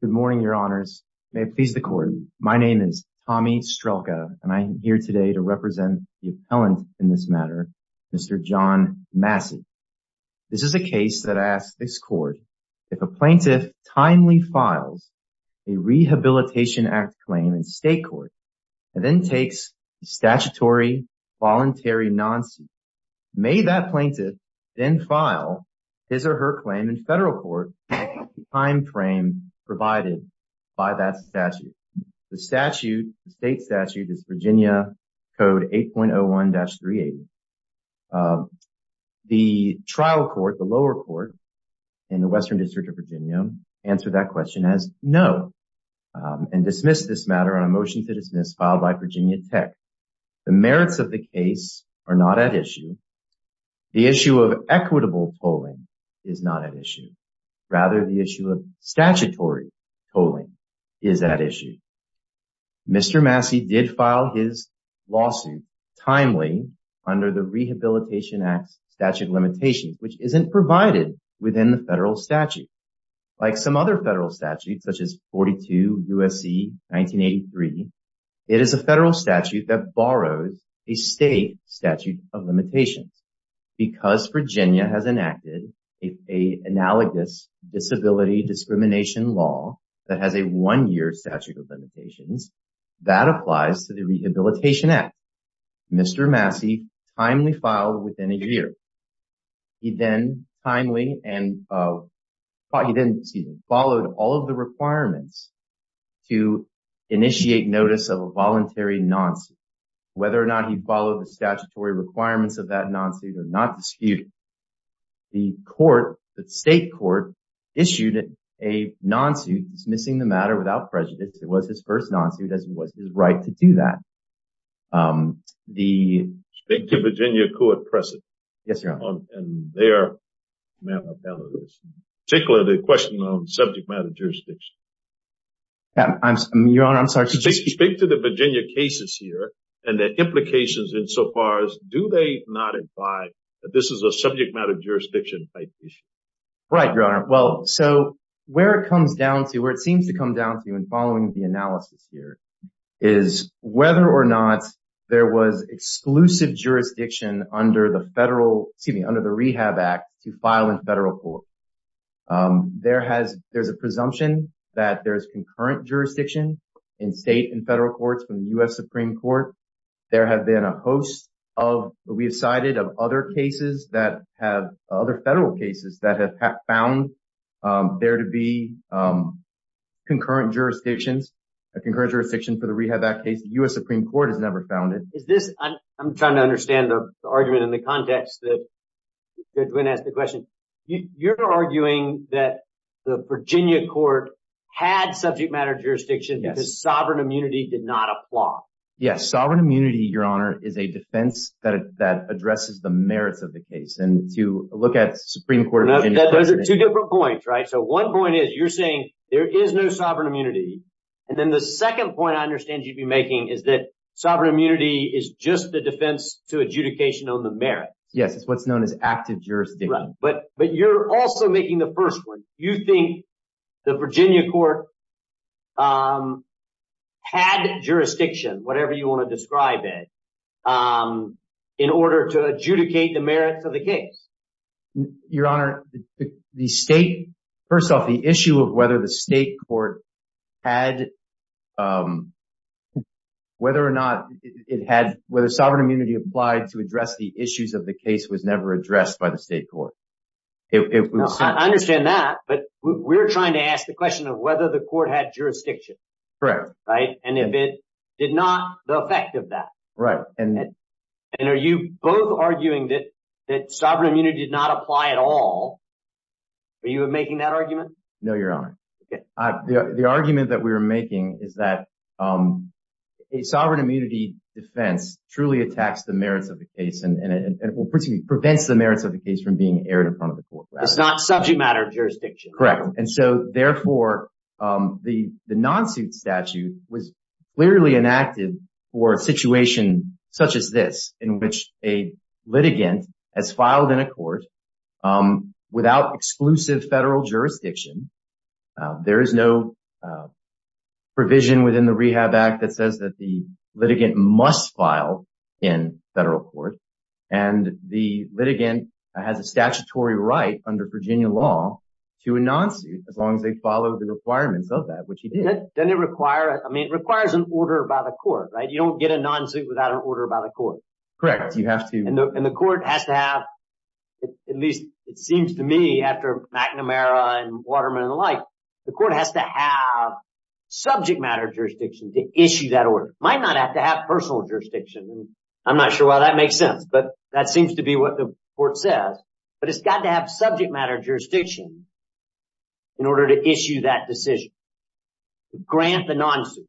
Good morning, Your Honors. May it please the Court, my name is Tommy Strelka and I am here today to represent the appellant in this matter, Mr. John Massey. This is a case that asks this Court if a plaintiff timely files a Rehabilitation Act claim in state court and then takes a statutory voluntary non-suit, may that plaintiff then file his or her claim in federal court timeframe provided by that statute? The statute, the state statute is Virginia Code 8.01-380. The trial court, the lower court in the Western District of Virginia answered that question as no and dismissed this matter on a motion to dismiss filed by Virginia Tech. The merits of the case are not at issue. The issue of equitable polling is not at issue. Rather, the issue of statutory polling is at issue. Mr. Massey did file his lawsuit timely under the Rehabilitation Act statute limitations, which isn't provided within the federal statute. Like some other federal statutes, such as 42 U.S.C. 1983, it is a federal statute that borrows a state statute of limitations. Because Virginia has enacted an analogous disability discrimination law that has a one-year statute of limitations, that applies to the Rehabilitation Act. Mr. Massey timely filed within a year. He then followed all of the requirements to initiate notice of a voluntary non-suit. Whether or not he followed the statutory requirements of that non-suit is not disputed. The court, the state court, issued a non-suit dismissing the matter without prejudice. It was his first non-suit as it was his right to do that. The... Speak to Virginia court precedent. Yes, Your Honor. And their manner of handling this, particularly the question of subject matter jurisdiction. Your Honor, I'm sorry. Speak to the Virginia cases here and their implications insofar as do they not imply that this is a subject matter jurisdiction type issue? Right, Your Honor. Well, so where it comes down to, where it seems to come down to in following the analysis here, is whether or not there was exclusive jurisdiction under the federal, excuse me, the Rehab Act to file in federal court. There has, there's a presumption that there's concurrent jurisdiction in state and federal courts from the U.S. Supreme Court. There have been a host of, we've cited of other cases that have, other federal cases that have found there to be concurrent jurisdictions, a concurrent jurisdiction for the Rehab Act case. The U.S. Supreme Court has never found it. Is this, I'm trying to understand the argument in the context that you're going to ask the question. You're arguing that the Virginia court had subject matter jurisdiction because sovereign immunity did not apply. Yes. Sovereign immunity, Your Honor, is a defense that addresses the merits of the case. And to look at Supreme Court. Those are two different points, right? So one point is you're saying there is no sovereign immunity. And then the second point I understand you'd be making is that sovereign immunity is just a defense to adjudication on the merits. Yes. It's what's known as active jurisdiction. But you're also making the first one. You think the Virginia court had jurisdiction, whatever you want to describe it, in order to adjudicate the merits of the case. Your Honor, the state, first off, the issue of whether the state court had, um, whether or not it had, whether sovereign immunity applied to address the issues of the case was never addressed by the state court. I understand that, but we're trying to ask the question of whether the court had jurisdiction. Correct. Right. And if it did not, the effect of that. Right. And are you both arguing that sovereign immunity did not apply at all? Are you making that argument? No, Your Honor. Okay. The argument that we were making is that, um, a sovereign immunity defense truly attacks the merits of the case and, and it will prevent the merits of the case from being aired in front of the court. It's not subject matter jurisdiction. Correct. And so therefore, um, the, the non-suit statute was clearly enacted for a situation such as this, in which a litigant has filed in a court, um, without exclusive federal jurisdiction. Uh, there is no, uh, provision within the Rehab Act that says that the litigant must file in federal court. And the litigant has a statutory right under Virginia law to a non-suit as long as they follow the requirements of that, which he did. Doesn't it require, I mean, it requires an order by the court, right? You don't get a non-suit without an order by the court. Correct. You have to. And the, and the court has to have, at least it seems to me after McNamara and Waterman and the like, the court has to have subject matter jurisdiction to issue that order. Might not have to have personal jurisdiction. I'm not sure why that makes sense, but that seems to be what the court says. But it's got to have subject matter jurisdiction in order to issue that decision, to grant the non-suit,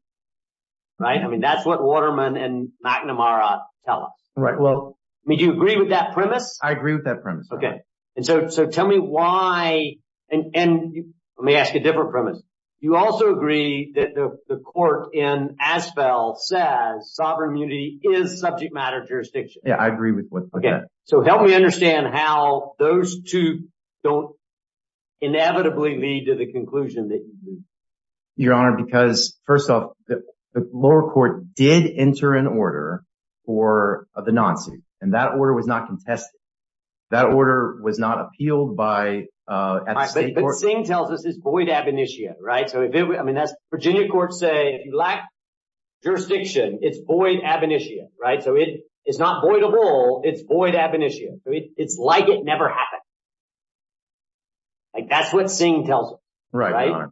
right? I mean, that's what Waterman and McNamara tell us. Right. Well, I mean, do you agree with that premise? I agree with that premise. Okay. And so, so tell me why, and, and let me ask a different premise. You also agree that the court in Aspel says sovereign immunity is subject matter jurisdiction. Yeah, I agree with that. Okay. So help me understand how those two don't inevitably lead to the conclusion that you need. Your Honor, because first off, the lower court did enter an order for the non-suit and that order was not contested. That order was not appealed by at the state court. But Singh tells us it's void ab initia, right? So if it, I mean, that's Virginia courts say, if you lack jurisdiction, it's void ab initia, right? So it is not voidable, it's void ab initia. So it's like it never happened. Like that's what Singh tells us. Right.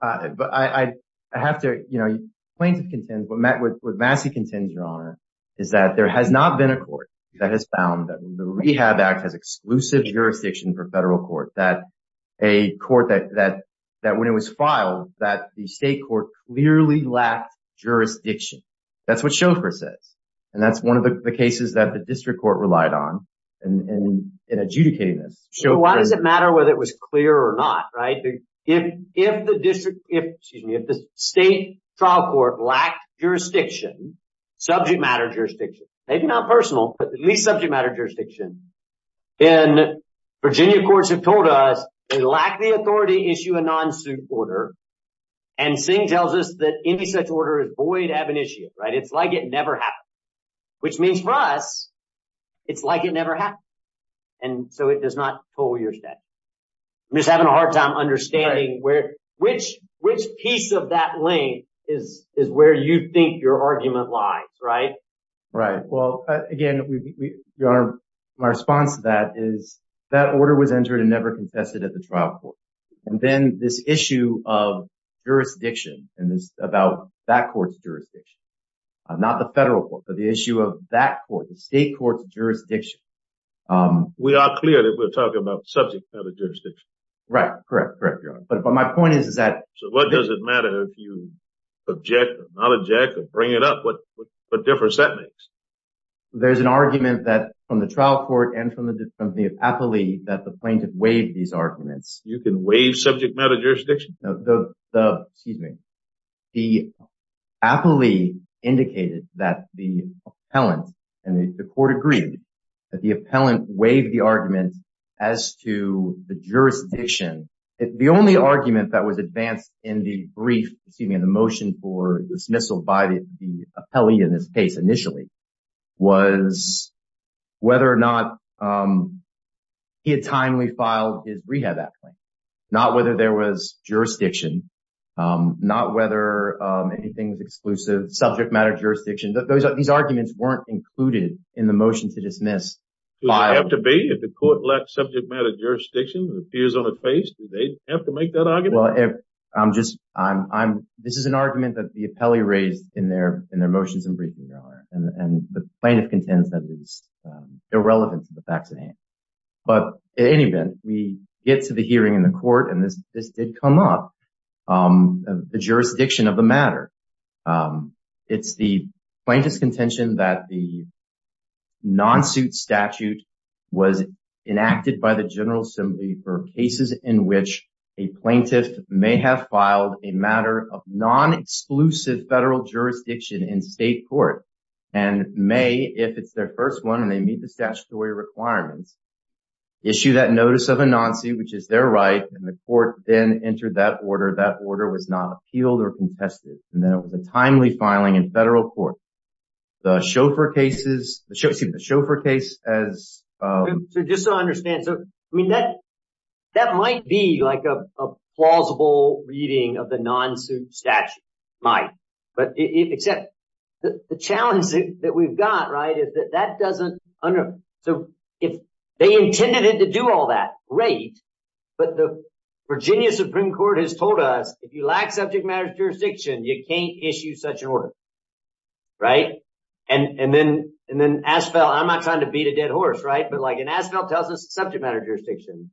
But I, I have to, you know, plaintiff contends, what Massey contends, Your Honor, is that there has not been a court that has found that the Rehab Act has exclusive jurisdiction for federal court, that a court that, that, that when it was filed, that the state court clearly lacked jurisdiction. That's what Chauffeur says. And that's one of the cases that the district court relied on in adjudicating this. So why does it matter whether it was clear or not, right? If, if the district, if, excuse me, if the state trial court lacked jurisdiction, subject matter jurisdiction, maybe not personal, but at least subject matter jurisdiction. And Virginia courts have told us they lack the authority to issue a non-suit order. And Singh tells us that any such order is void ab initia, right? It's like it never happened, which means for us, it's like it never happened. And so it does not toll your statute. I'm just having a hard time understanding where, which, which piece of that lane is, is where you think your argument lies, right? Right. Well, again, Your Honor, my response to that is that order was entered and never contested at the trial court. And then this issue of jurisdiction and this, about that court's jurisdiction, not the federal court, but the issue of that court, the state court's jurisdiction. We are clear that we're talking about subject matter jurisdiction. Right. Correct. Correct. Your Honor. But my point is, is that. So what does it matter if you object or not object or bring it up? What, what difference that makes. There's an argument that from the trial court and from the, from the appellee that the plaintiff waived these arguments. You can waive subject matter jurisdiction. No, the, the, excuse me, the appellee indicated that the appellant and the court agreed that the appellant waived the argument as to the jurisdiction. The only argument that was advanced in the brief, excuse me, in the motion for dismissal by the appellee in this case initially was whether or not he had timely filed his rehab act claim. Not whether there was jurisdiction, not whether anything was exclusive subject matter jurisdiction, these arguments weren't included in the motion to dismiss. Does it have to be if the court lacks subject matter jurisdiction and appears on its face, do they have to make that argument? Well, if I'm just, I'm, I'm, this is an argument that the appellee raised in their, in their motions in briefing, Your Honor. And the plaintiff contends that it's irrelevant to the facts at hand. But in any event, we get to the hearing in the court and this, this did come up, the jurisdiction of the matter. It's the plaintiff's contention that the non-suit statute was enacted by the General Assembly for cases in which a plaintiff may have filed a matter of non-exclusive federal jurisdiction in state court and may, if it's their first one and they meet the statutory requirements, issue that notice of a non-suit, which is their right, and the court then entered that order, that order was not appealed or contested. And then it was a timely filing in federal court. The chauffeur cases, excuse me, the chauffeur case as... So just so I understand. So, I mean, that, that might be like a plausible reading of the non-suit statute. Might. But except the challenge that we've got, right, that doesn't... So if they intended it to do all that, great. But the Virginia Supreme Court has told us if you lack subject matter jurisdiction, you can't issue such an order, right? And then, and then Asphalt, I'm not trying to beat a dead horse, right? But like, and Asphalt tells us subject matter jurisdiction.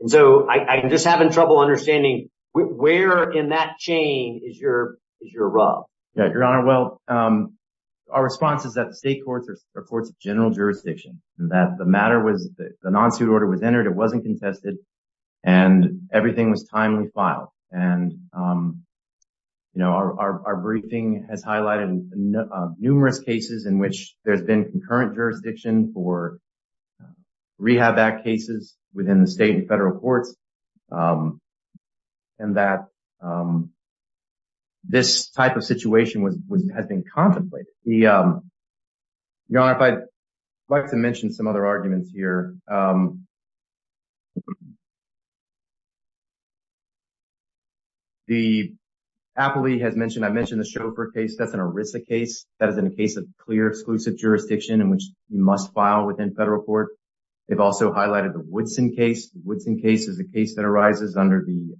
And so I'm just having trouble understanding where in that chain is your, is your rub? Yeah, Your Honor. Well, our response is that state courts are courts of general jurisdiction, and that the matter was the non-suit order was entered, it wasn't contested, and everything was timely filed. And, you know, our briefing has highlighted numerous cases in which there's been concurrent jurisdiction for rehab act cases within the state and federal courts. And that this type of situation was, has been contemplated. The, Your Honor, if I'd like to mention some other arguments here. The, Appley has mentioned, I mentioned the Schoepfer case, that's an ERISA case, that is in a case of clear exclusive jurisdiction in which you must file within federal court. They've also highlighted the Woodson case. The Woodson case is a case that arises under the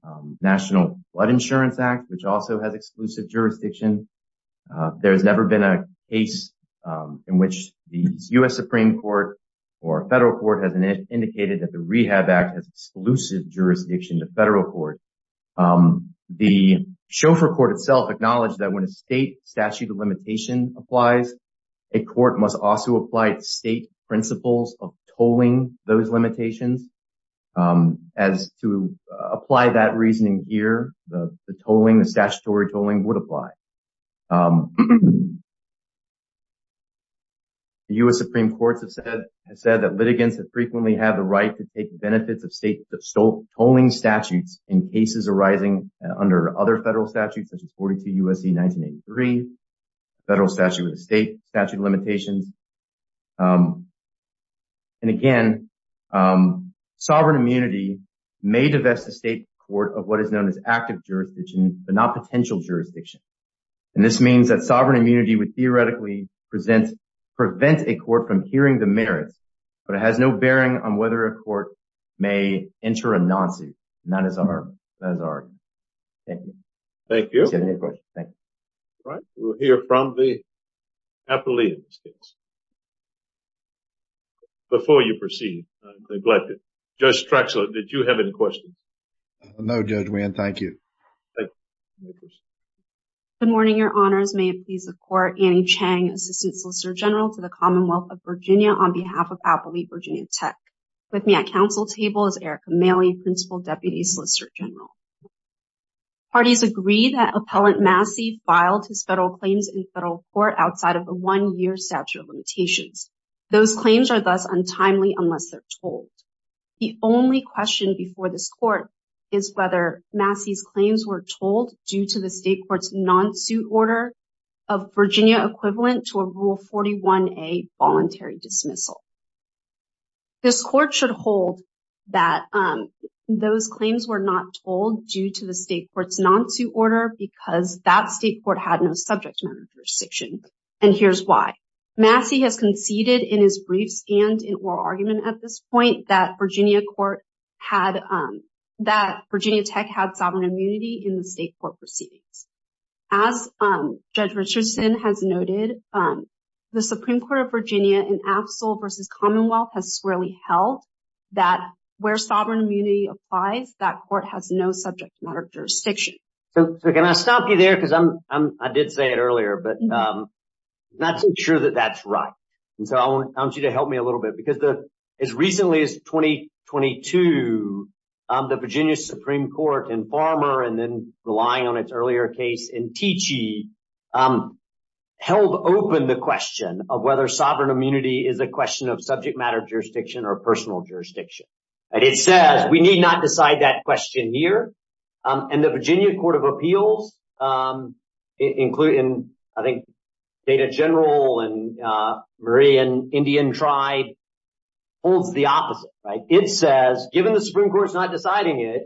jurisdiction. There's never been a case in which the U.S. Supreme Court or federal court has indicated that the Rehab Act has exclusive jurisdiction to federal court. The Schoepfer court itself acknowledged that when a state statute of limitation applies, a court must also apply state principles of tolling those limitations. As to apply that reasoning here, the tolling, the statutory tolling would apply. The U.S. Supreme Court has said that litigants have frequently had the right to take benefits of state tolling statutes in cases arising under other federal statutes, such as 42 U.S.C. 1983, federal statute with a state statute of limitations. And again, sovereign immunity may divest the state court of what is known as active jurisdiction, but not potential jurisdiction. And this means that sovereign immunity would theoretically present, prevent a court from hearing the merits, but it has no bearing on whether a court may enter a non-suit. And that is our argument. Thank you. Thank you. Thank you. All right, we'll hear from the appellee before you proceed. Judge Traxler, did you have any questions? No, Judge Wynn. Thank you. Good morning, Your Honors. May it please the Court, Annie Chang, Assistant Solicitor General to the Commonwealth of Virginia on behalf of Appellee Virginia Tech. With me at council table is Erica Maley, Principal Deputy Solicitor General. Parties agree that Appellant Massey filed his federal claims in federal court outside of a one-year statute of limitations. Those claims are thus untimely unless they're told. The only question before this Court is whether Massey's claims were told due to the state court's non-suit order of Virginia equivalent to a Rule 41A voluntary dismissal. This Court should hold that those claims were not told due to the state court's non-suit order because that state court had no subject matter jurisdiction. And here's why. Massey has conceded in his briefs and in oral argument at this point that Virginia Tech had sovereign immunity in the state court proceedings. As Judge Richardson has noted, the Supreme Court of Virginia in Abseil versus Commonwealth has held that where sovereign immunity applies, that court has no subject matter jurisdiction. So can I stop you there? Because I did say it earlier, but I'm not so sure that that's right. And so I want you to help me a little bit because as recently as 2022, the Virginia Supreme Court in Farmer and then relying on its earlier case in Teachee held open the question of whether sovereign immunity is a question of subject matter jurisdiction or personal jurisdiction. And it says we need not decide that question here. And the Virginia Court of Appeals, including I think Data General and Murray and Indian Tribe holds the opposite. It says given the Supreme Court's not deciding it,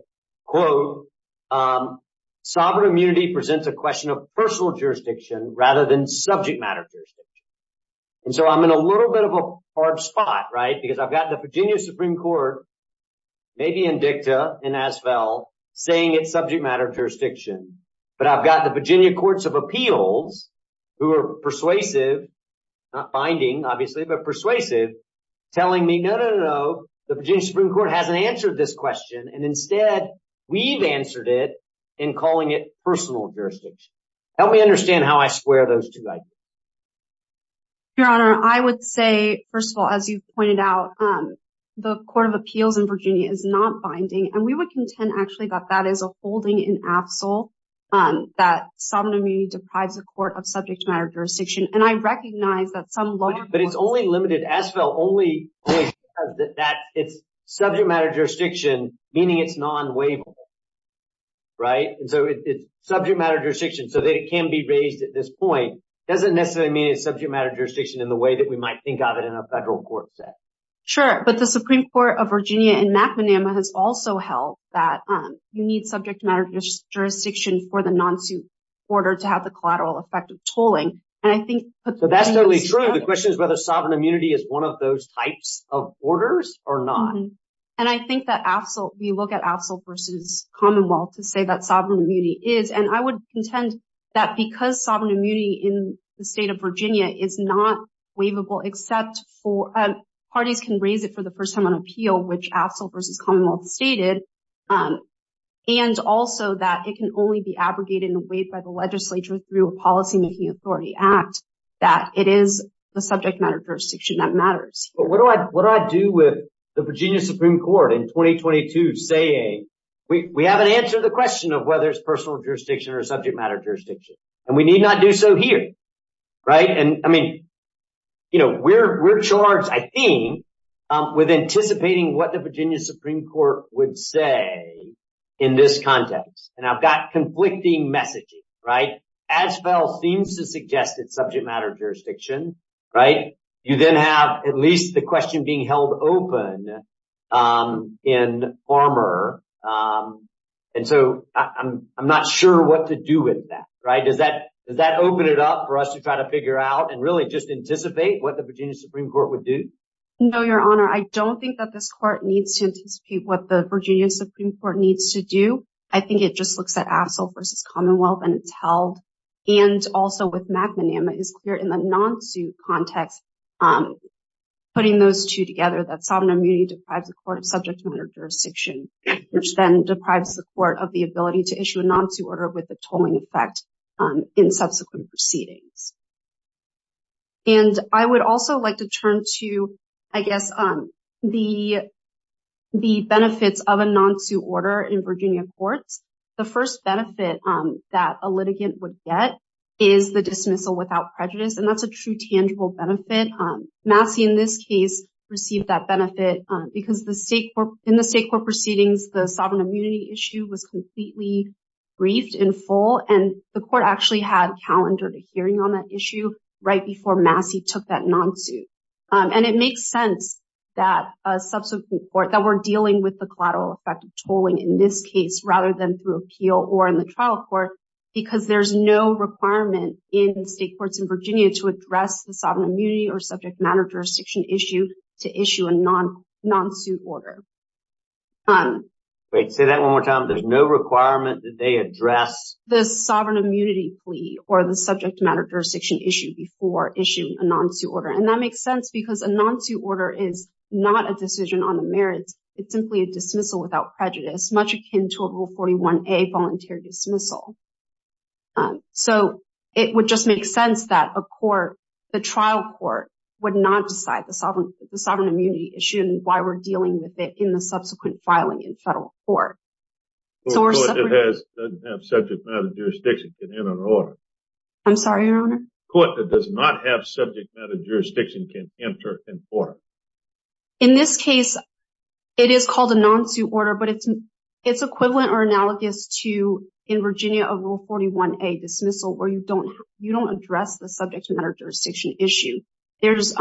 quote, um, sovereign immunity presents a question of personal jurisdiction rather than subject matter jurisdiction. And so I'm in a little bit of a hard spot, right, because I've got the Virginia Supreme Court, maybe in dicta in Asphalt, saying it's subject matter jurisdiction. But I've got the Virginia Courts of Appeals, who are persuasive, not binding, obviously, but persuasive, telling me no, no, no, the Virginia Supreme Court hasn't answered this question. And instead, we've answered it in calling it personal jurisdiction. Help me understand how I square those two. Your Honor, I would say, first of all, as you've pointed out, the Court of Appeals in Virginia is not binding. And we would contend, actually, that that is a holding in abseil, that sovereign immunity deprives the court of subject matter jurisdiction. And I recognize that some law... It's only limited, Asphalt only says that it's subject matter jurisdiction, meaning it's non-waivable, right? And so it's subject matter jurisdiction, so that it can be raised at this point. It doesn't necessarily mean it's subject matter jurisdiction in the way that we might think of it in a federal court setting. Sure, but the Supreme Court of Virginia in McManama has also held that you need subject matter jurisdiction for the non-suit order to have the collateral effect of tolling. And I think... That's totally true. The question is whether sovereign immunity is one of those types of orders or not. And I think that we look at abseil versus commonwealth to say that sovereign immunity is. And I would contend that because sovereign immunity in the state of Virginia is not waivable, except for parties can raise it for the first time on appeal, which abseil versus commonwealth stated, and also that it can only be abrogated and waived by the legislature through a policymaking authority act, that it is the subject matter jurisdiction that matters. But what do I do with the Virginia Supreme Court in 2022 saying, we haven't answered the question of whether it's personal jurisdiction or subject matter jurisdiction, and we need not do so here, right? And I mean, we're charged, I think, with anticipating what the Virginia Supreme Court would say in this context. And I've got conflicting messaging, right? Abseil seems to suggest it's subject matter jurisdiction, right? You then have at least the question being held open in former. And so I'm not sure what to do with that, right? Does that open it up for us to try to figure out and really just anticipate what the Virginia Supreme Court would do? No, Your Honor. I don't think that this court needs to anticipate what the Virginia Supreme Court needs to do. I think it just looks at abseil versus commonwealth and it's held. And also with McManama, it's clear in the non-suit context, putting those two together, that sovereign immunity deprives the court of subject matter jurisdiction, which then deprives the court of the ability to issue a non-suit order with the tolling effect in subsequent proceedings. And I would also like to turn to, I guess, the benefits of a non-suit order in Virginia courts. The first benefit that a litigant would get is the dismissal without prejudice. And that's a true tangible benefit. Massey, in this case, received that benefit because in the state court proceedings, the sovereign immunity issue was completely briefed in full. And the court actually had that subsequent court that were dealing with the collateral effect of tolling in this case, rather than through appeal or in the trial court, because there's no requirement in state courts in Virginia to address the sovereign immunity or subject matter jurisdiction issue to issue a non-suit order. Wait, say that one more time. There's no requirement that they address? The sovereign immunity plea or the subject matter jurisdiction issue before a non-suit order. And that makes sense because a non-suit order is not a decision on the merits. It's simply a dismissal without prejudice, much akin to a rule 41A volunteer dismissal. So it would just make sense that a court, the trial court, would not decide the sovereign immunity issue and why we're dealing with it in the subsequent filing in federal court. A court that doesn't have subject matter jurisdiction can enter an order. I'm sorry, Your Honor? A court that does not have subject matter jurisdiction can enter an order. In this case, it is called a non-suit order, but it's equivalent or analogous to, in Virginia, a rule 41A dismissal where you don't address the subject matter jurisdiction issue. There's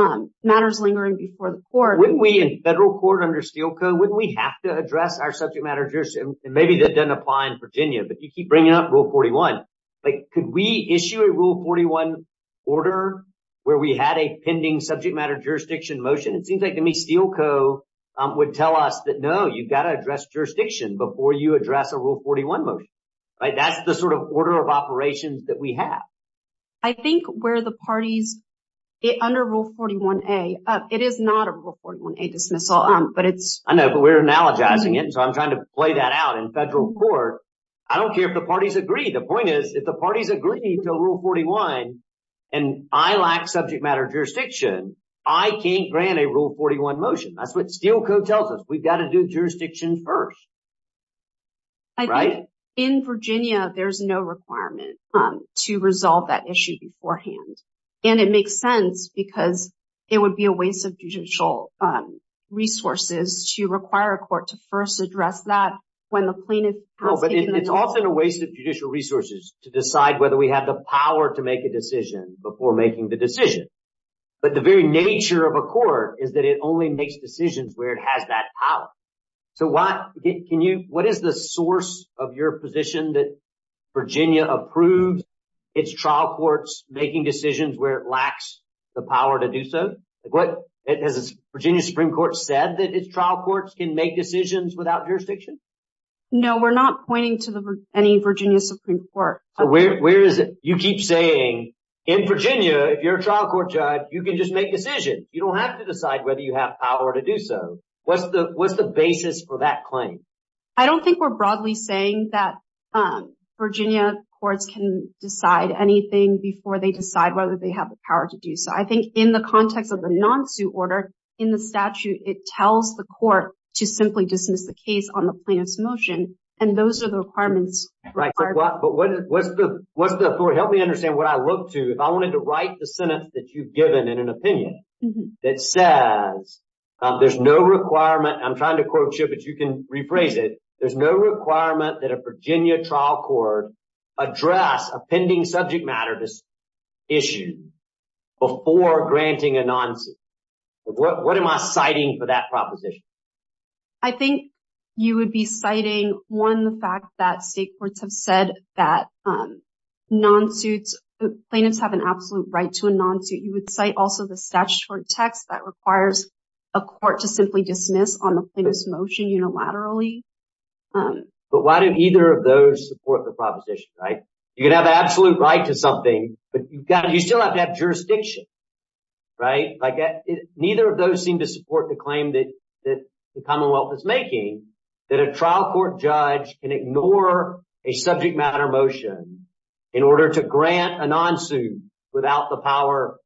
matters lingering before the court. Wouldn't we, in federal court under Steel Code, wouldn't we have to address our subject matter jurisdiction? Maybe that doesn't apply in Virginia, but you keep bringing up rule 41. Could we issue a rule 41 order where we had a pending subject matter jurisdiction motion? It seems like to me Steel Code would tell us that, no, you've got to address jurisdiction before you address a rule 41 motion. That's the sort of order of operations that we have. I think where the parties, under rule 41A, it is not a rule 41A dismissal, but it's... I know, but we're analogizing it, so I'm trying to play that out in federal court. I don't care if the parties agree. The point is, if the parties agree to rule 41 and I lack subject matter jurisdiction, I can't grant a rule 41 motion. That's what Steel Code tells us. We've got to do jurisdiction first. Right? In Virginia, there's no requirement to resolve that issue beforehand, and it makes sense because it would be a waste of judicial resources to require a court to first address that when the plaintiff... No, but it's also a waste of judicial resources to decide whether we have the power to make a decision before making the decision. But the very nature of a court is that it only makes decisions where it has that power. What is the source of your position that Virginia approved its trial courts making decisions where it lacks the power to do so? Has the Virginia Supreme Court said that its trial courts can make decisions without jurisdiction? No, we're not pointing to any Virginia Supreme Court. Where is it? You keep saying, in Virginia, if you're a trial court judge, you can just make decisions. You don't have to decide whether you have power to do so. What's the basis for that claim? I don't think we're broadly saying that Virginia courts can decide anything before they decide whether they have the power to do so. I think in the context of the non-suit order in the statute, it tells the court to simply dismiss the case on the plaintiff's motion, and those are the requirements. Right. But what's the... Help me understand what I look to if I wanted to write the sentence that you've given in an opinion that says there's no requirement... I'm trying to quote you, but you can rephrase it. There's no requirement that a Virginia trial court address a pending subject matter issue before granting a non-suit. What am I citing for that proposition? I think you would be citing, one, the fact that state courts have said that plaintiffs have an absolute right to a non-suit. You would cite also the statutory text that requires a court to simply dismiss on the plaintiff's motion unilaterally. But why do either of those support the proposition, right? You can have absolute right to something, but you still have to have jurisdiction, right? Neither of those seem to support the claim that the Commonwealth is making that a trial court judge can ignore a subject matter motion in order to grant a non-suit without the power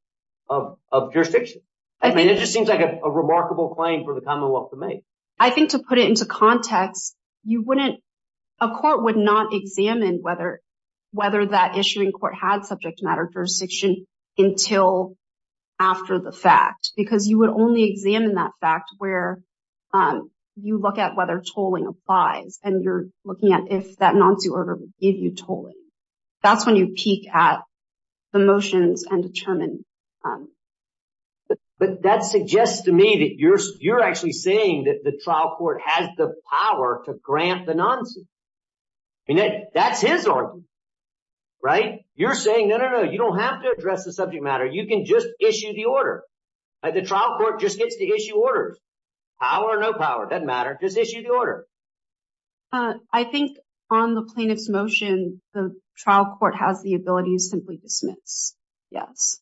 of jurisdiction. I mean, it just seems like a remarkable claim for the Commonwealth to make. I think to put it into context, you wouldn't... A court would not examine whether that issuing court had subject matter jurisdiction until after the fact because you would only examine that fact where you look at whether tolling applies and you're looking at if that non-suit order would give you tolling. That's when you peek at the motions and determine. But that suggests to me that you're actually saying that the trial court has the power to grant the non-suit. I mean, that's his argument, right? You're saying, no, no, no, you don't have to address the subject matter. You can just issue the order. The trial court just gets to issue the order. The trial court has the ability to simply dismiss. Yes.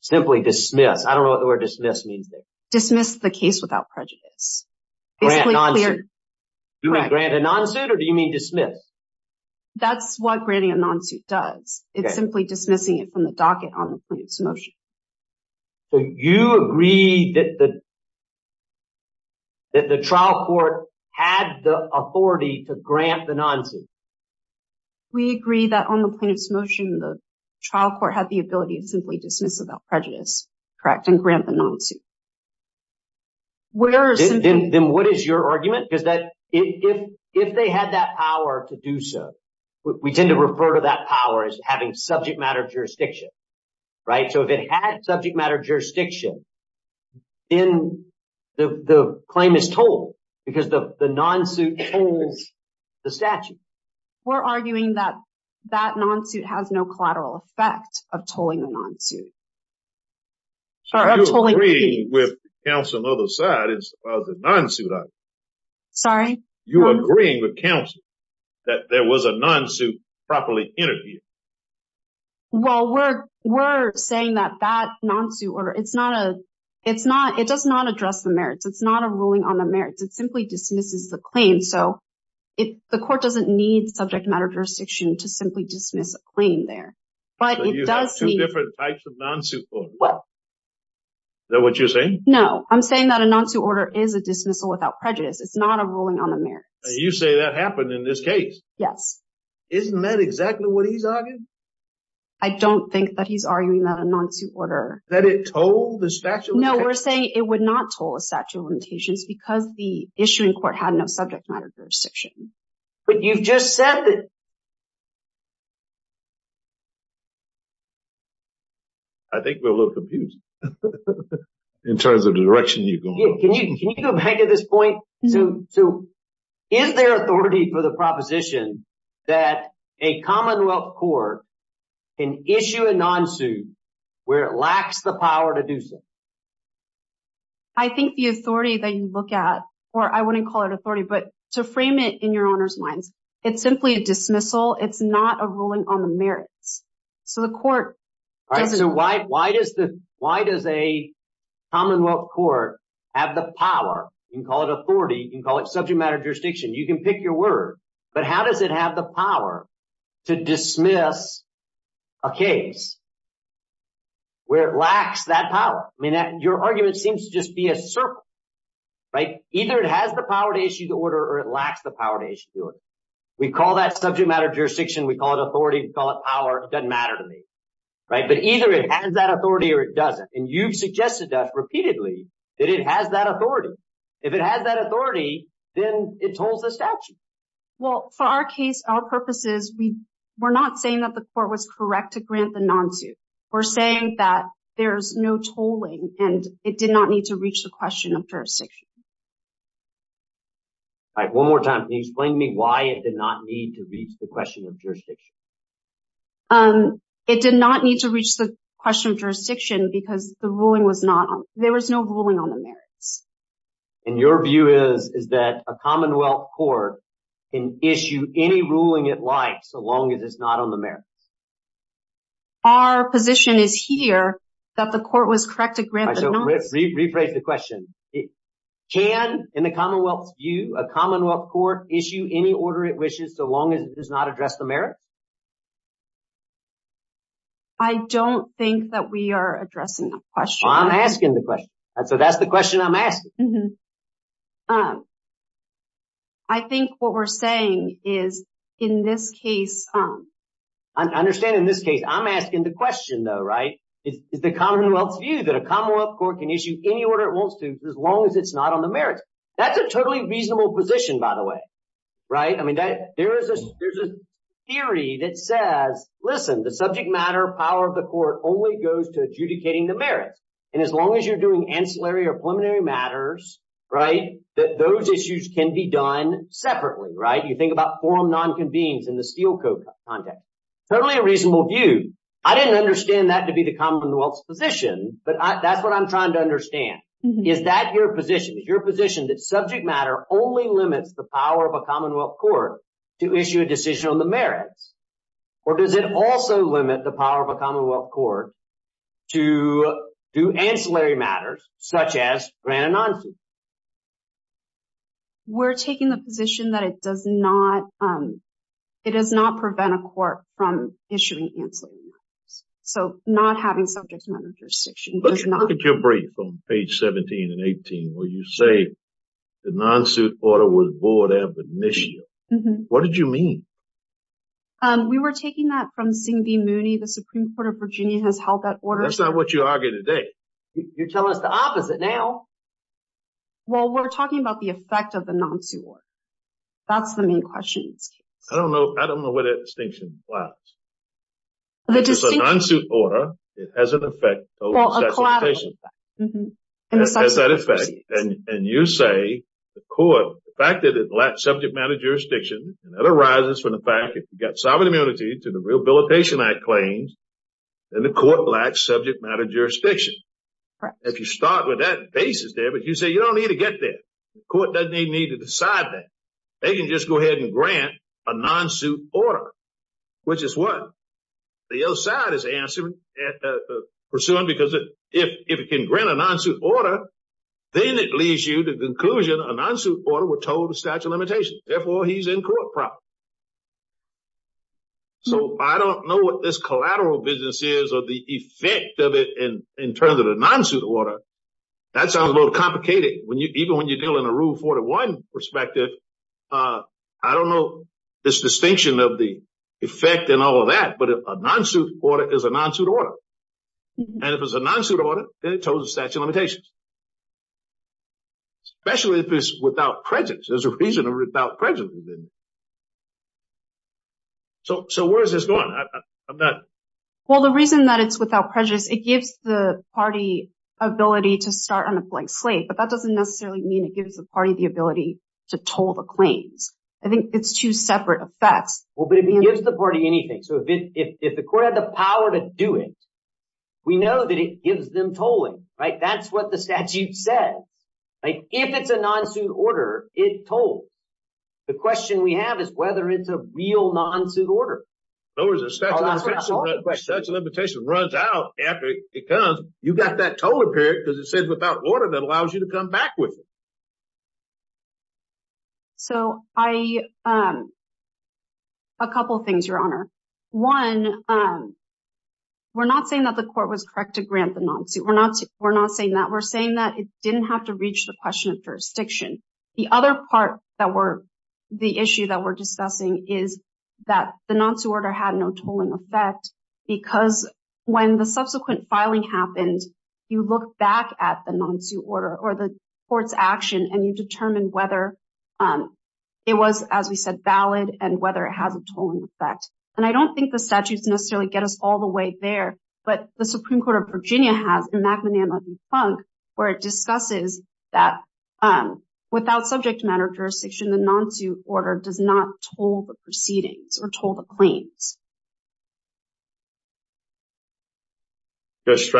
Simply dismiss. I don't know what the word dismiss means. Dismiss the case without prejudice. Do we grant a non-suit or do you mean dismiss? That's what granting a non-suit does. It's simply dismissing it from the docket on the plaintiff's motion. So you agree that the We agree that on the plaintiff's motion, the trial court had the ability to simply dismiss without prejudice, correct, and grant the non-suit. Then what is your argument? Because if they had that power to do so, we tend to refer to that power as having subject matter jurisdiction, right? So if it had subject matter jurisdiction, then the claim is tolled because the non-suit tolls the statute. We're arguing that that non-suit has no collateral effect of tolling the non-suit. So you agree with counsel on the other side of the non-suit argument? Sorry? You agree with counsel that there was a non-suit properly interviewed? Well, we're saying that that non-suit order, it's not a, it's not, it does not address the merits. It's not a ruling on the merits. It the court doesn't need subject matter jurisdiction to simply dismiss a claim there. But you have two different types of non-suit court. Is that what you're saying? No, I'm saying that a non-suit order is a dismissal without prejudice. It's not a ruling on the merits. You say that happened in this case. Yes. Isn't that exactly what he's arguing? I don't think that he's arguing that a non-suit order. That it told the statute? No, we're saying it would not toll a statute of limitations because the issuing court had no subject matter jurisdiction. But you've just said that... I think we're a little confused in terms of the direction you're going. Can you go back to this point? So is there authority for the proposition that a Commonwealth court can issue a non-suit where it lacks the power to do so? I think the authority that you look at, or I wouldn't call it authority, but to frame it in your owner's minds, it's simply a dismissal. It's not a ruling on the merits. So the court... So why does the, why does a Commonwealth court have the power? You can call it authority. You can call it subject matter jurisdiction. You can pick your word. But how does it have the power to dismiss a case where it lacks that power? I mean, your argument seems to just be a circle, right? Either it has the power to issue the order or it lacks the power to issue the order. We call that subject matter jurisdiction. We call it authority. We call it power. It doesn't matter to me, right? But either it has that authority or it doesn't. And you've suggested that repeatedly that it has that authority. If it has that authority, then it tolls the statute. Well, for our case, our purposes, we're not saying that the court was correct to grant the non-suit. We're saying that there's no tolling and it did not need to reach the question of jurisdiction. All right. One more time. Can you explain to me why it did not need to reach the question of jurisdiction? It did not need to reach the question of jurisdiction because the ruling was not on, there was no ruling on the merits. And your view is that a commonwealth court can issue any ruling it likes so long as it's not on the merits? Our position is here that the court was correct to grant the non-suit. Rephrase the question. Can, in the commonwealth's view, a commonwealth court issue any order it wishes so long as it does not address the merits? I don't think that we are addressing the question. I'm asking the question. So that's the question I'm asking. I think what we're saying is in this case... I understand in this case, I'm asking the question though, right? Is the commonwealth's view that a commonwealth court can issue any order it wants to as long as it's not on the merits? That's a totally reasonable position, by the way, right? I mean, there's a theory that says, listen, the subject matter power of the merits. And as long as you're doing ancillary or preliminary matters, right, that those issues can be done separately, right? You think about forum non-convenes in the steel coat context. Totally a reasonable view. I didn't understand that to be the commonwealth's position, but that's what I'm trying to understand. Is that your position? Is your position that subject matter only limits the power of a commonwealth court to issue a decision on the merits? Or does it also limit the power of a commonwealth court to do ancillary matters, such as grant a non-suit? We're taking the position that it does not prevent a court from issuing ancillary matters. So not having subject matter jurisdiction does not... Let's look at your brief on page 17 and 18, where you say the non-suit order was void of initiative. What did you mean? We were taking that from Singh B. Mooney, the Supreme Court of Virginia has held that order... That's not what you argued today. You're telling us the opposite now. Well, we're talking about the effect of the non-suit order. That's the main question. I don't know where that distinction lies. The distinction... It's a non-suit order, it has an effect... Collateral effect. And you say the court, the fact that it lacks subject matter jurisdiction, and that arises from the fact that you've got sovereign immunity to the Rehabilitation Act claims, and the court lacks subject matter jurisdiction. If you start with that basis there, but you say you don't need to get there, the court doesn't even need to decide that. They can just go ahead and grant a non-suit order, which is what? The other side is pursuing because if it can grant a non-suit order, then it leads you to the conclusion a non-suit order will tow the statute of limitations. Therefore, he's in court proper. So I don't know what this collateral business is or the effect of it in terms of the non-suit order. That sounds a little complicated. Even when you're dealing in a Rule 41 perspective, I don't know this distinction of the effect and all of that, but a non-suit order is a non-suit order. If it's a non-suit order, then it tows the statute of limitations, especially if it's without prejudice. There's a reason it's without prejudice. So where is this going? Well, the reason that it's without prejudice, it gives the party ability to start on a blank slate, but that doesn't necessarily mean it gives the party the ability to tow the claims. I think it's two separate effects. Well, but it gives the party anything. So if the court had the power to do it, we know that it gives them tolling, right? That's what the statute says. If it's a non-suit order, it tolls. The question we have is whether it's a real non-suit order. So the statute of limitations runs out after it comes. You've got that tolling period because it says without order that allows you to come back with it. So a couple of things, Your Honor. One, we're not saying that the court was correct to grant the non-suit. We're not saying that. We're saying that it didn't have to reach the question of jurisdiction. The other part that we're, the issue that we're discussing is that the non-suit order had no tolling effect because when the subsequent filing happened, you look back at the non-suit order or the court's action and you determine whether it was, as we said, valid and whether it has a tolling effect. And I don't think the statutes necessarily get us all the way there, but the Supreme Court of Virginia has, in McManama v. Funk, where it discusses that without subject matter jurisdiction, the non-suit order does not toll the proceedings or toll the proceedings. Thank you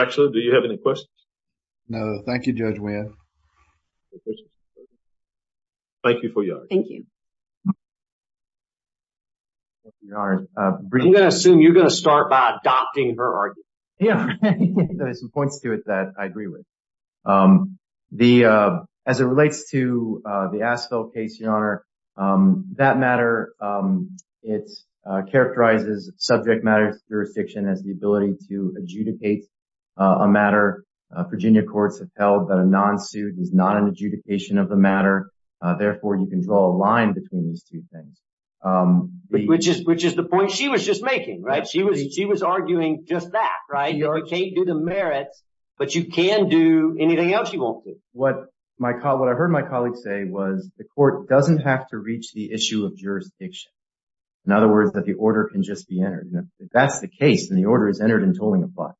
for your argument. Thank you. I'm going to assume you're going to start by adopting her argument. Yeah, there's some points to it that I agree with. As it relates to the Asphill case, Your Honor, that matter, it characterizes subject matter jurisdiction as the ability to adjudicate a matter. Virginia courts have held that a non-suit is not an adjudication of the matter. Therefore, you can draw a line between these two things. Which is the point she was just making, right? She was arguing just that, right? You can't do the merits, but you can do anything else you won't do. What I heard my colleague say was the court doesn't have to reach the issue of jurisdiction. In other words, that the order can just be entered. That's the case, and the order is entered and tolling applies.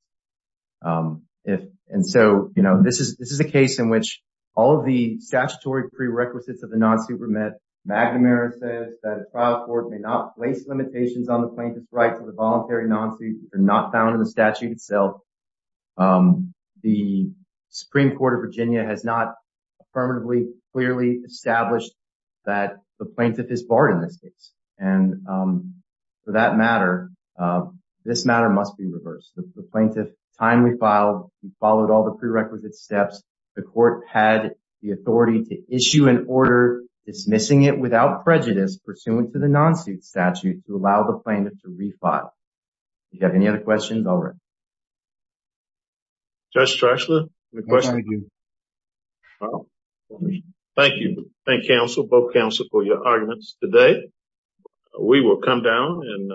This is a case in which all of the statutory prerequisites of the non-suit were met. McNamara says that a trial court may not place limitations on the plaintiff's right to the voluntary non-suit, which are not found in the statute itself. The Supreme Court of Virginia has not affirmatively, clearly established that the plaintiff is barred in this case. And for that matter, this matter must be reversed. The plaintiff timely filed and followed all the prerequisite steps. The court had the authority to issue an order dismissing it without prejudice pursuant to the non-suit statute to allow the plaintiff to refile. Do you have any other questions already? Judge Streichler, any questions? Thank you. Thank counsel, both counsel for your arguments today. We will come down and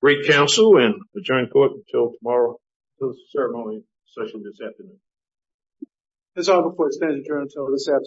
break counsel and adjourn court until tomorrow's ceremony session this afternoon. That's all before extended adjourn until this afternoon.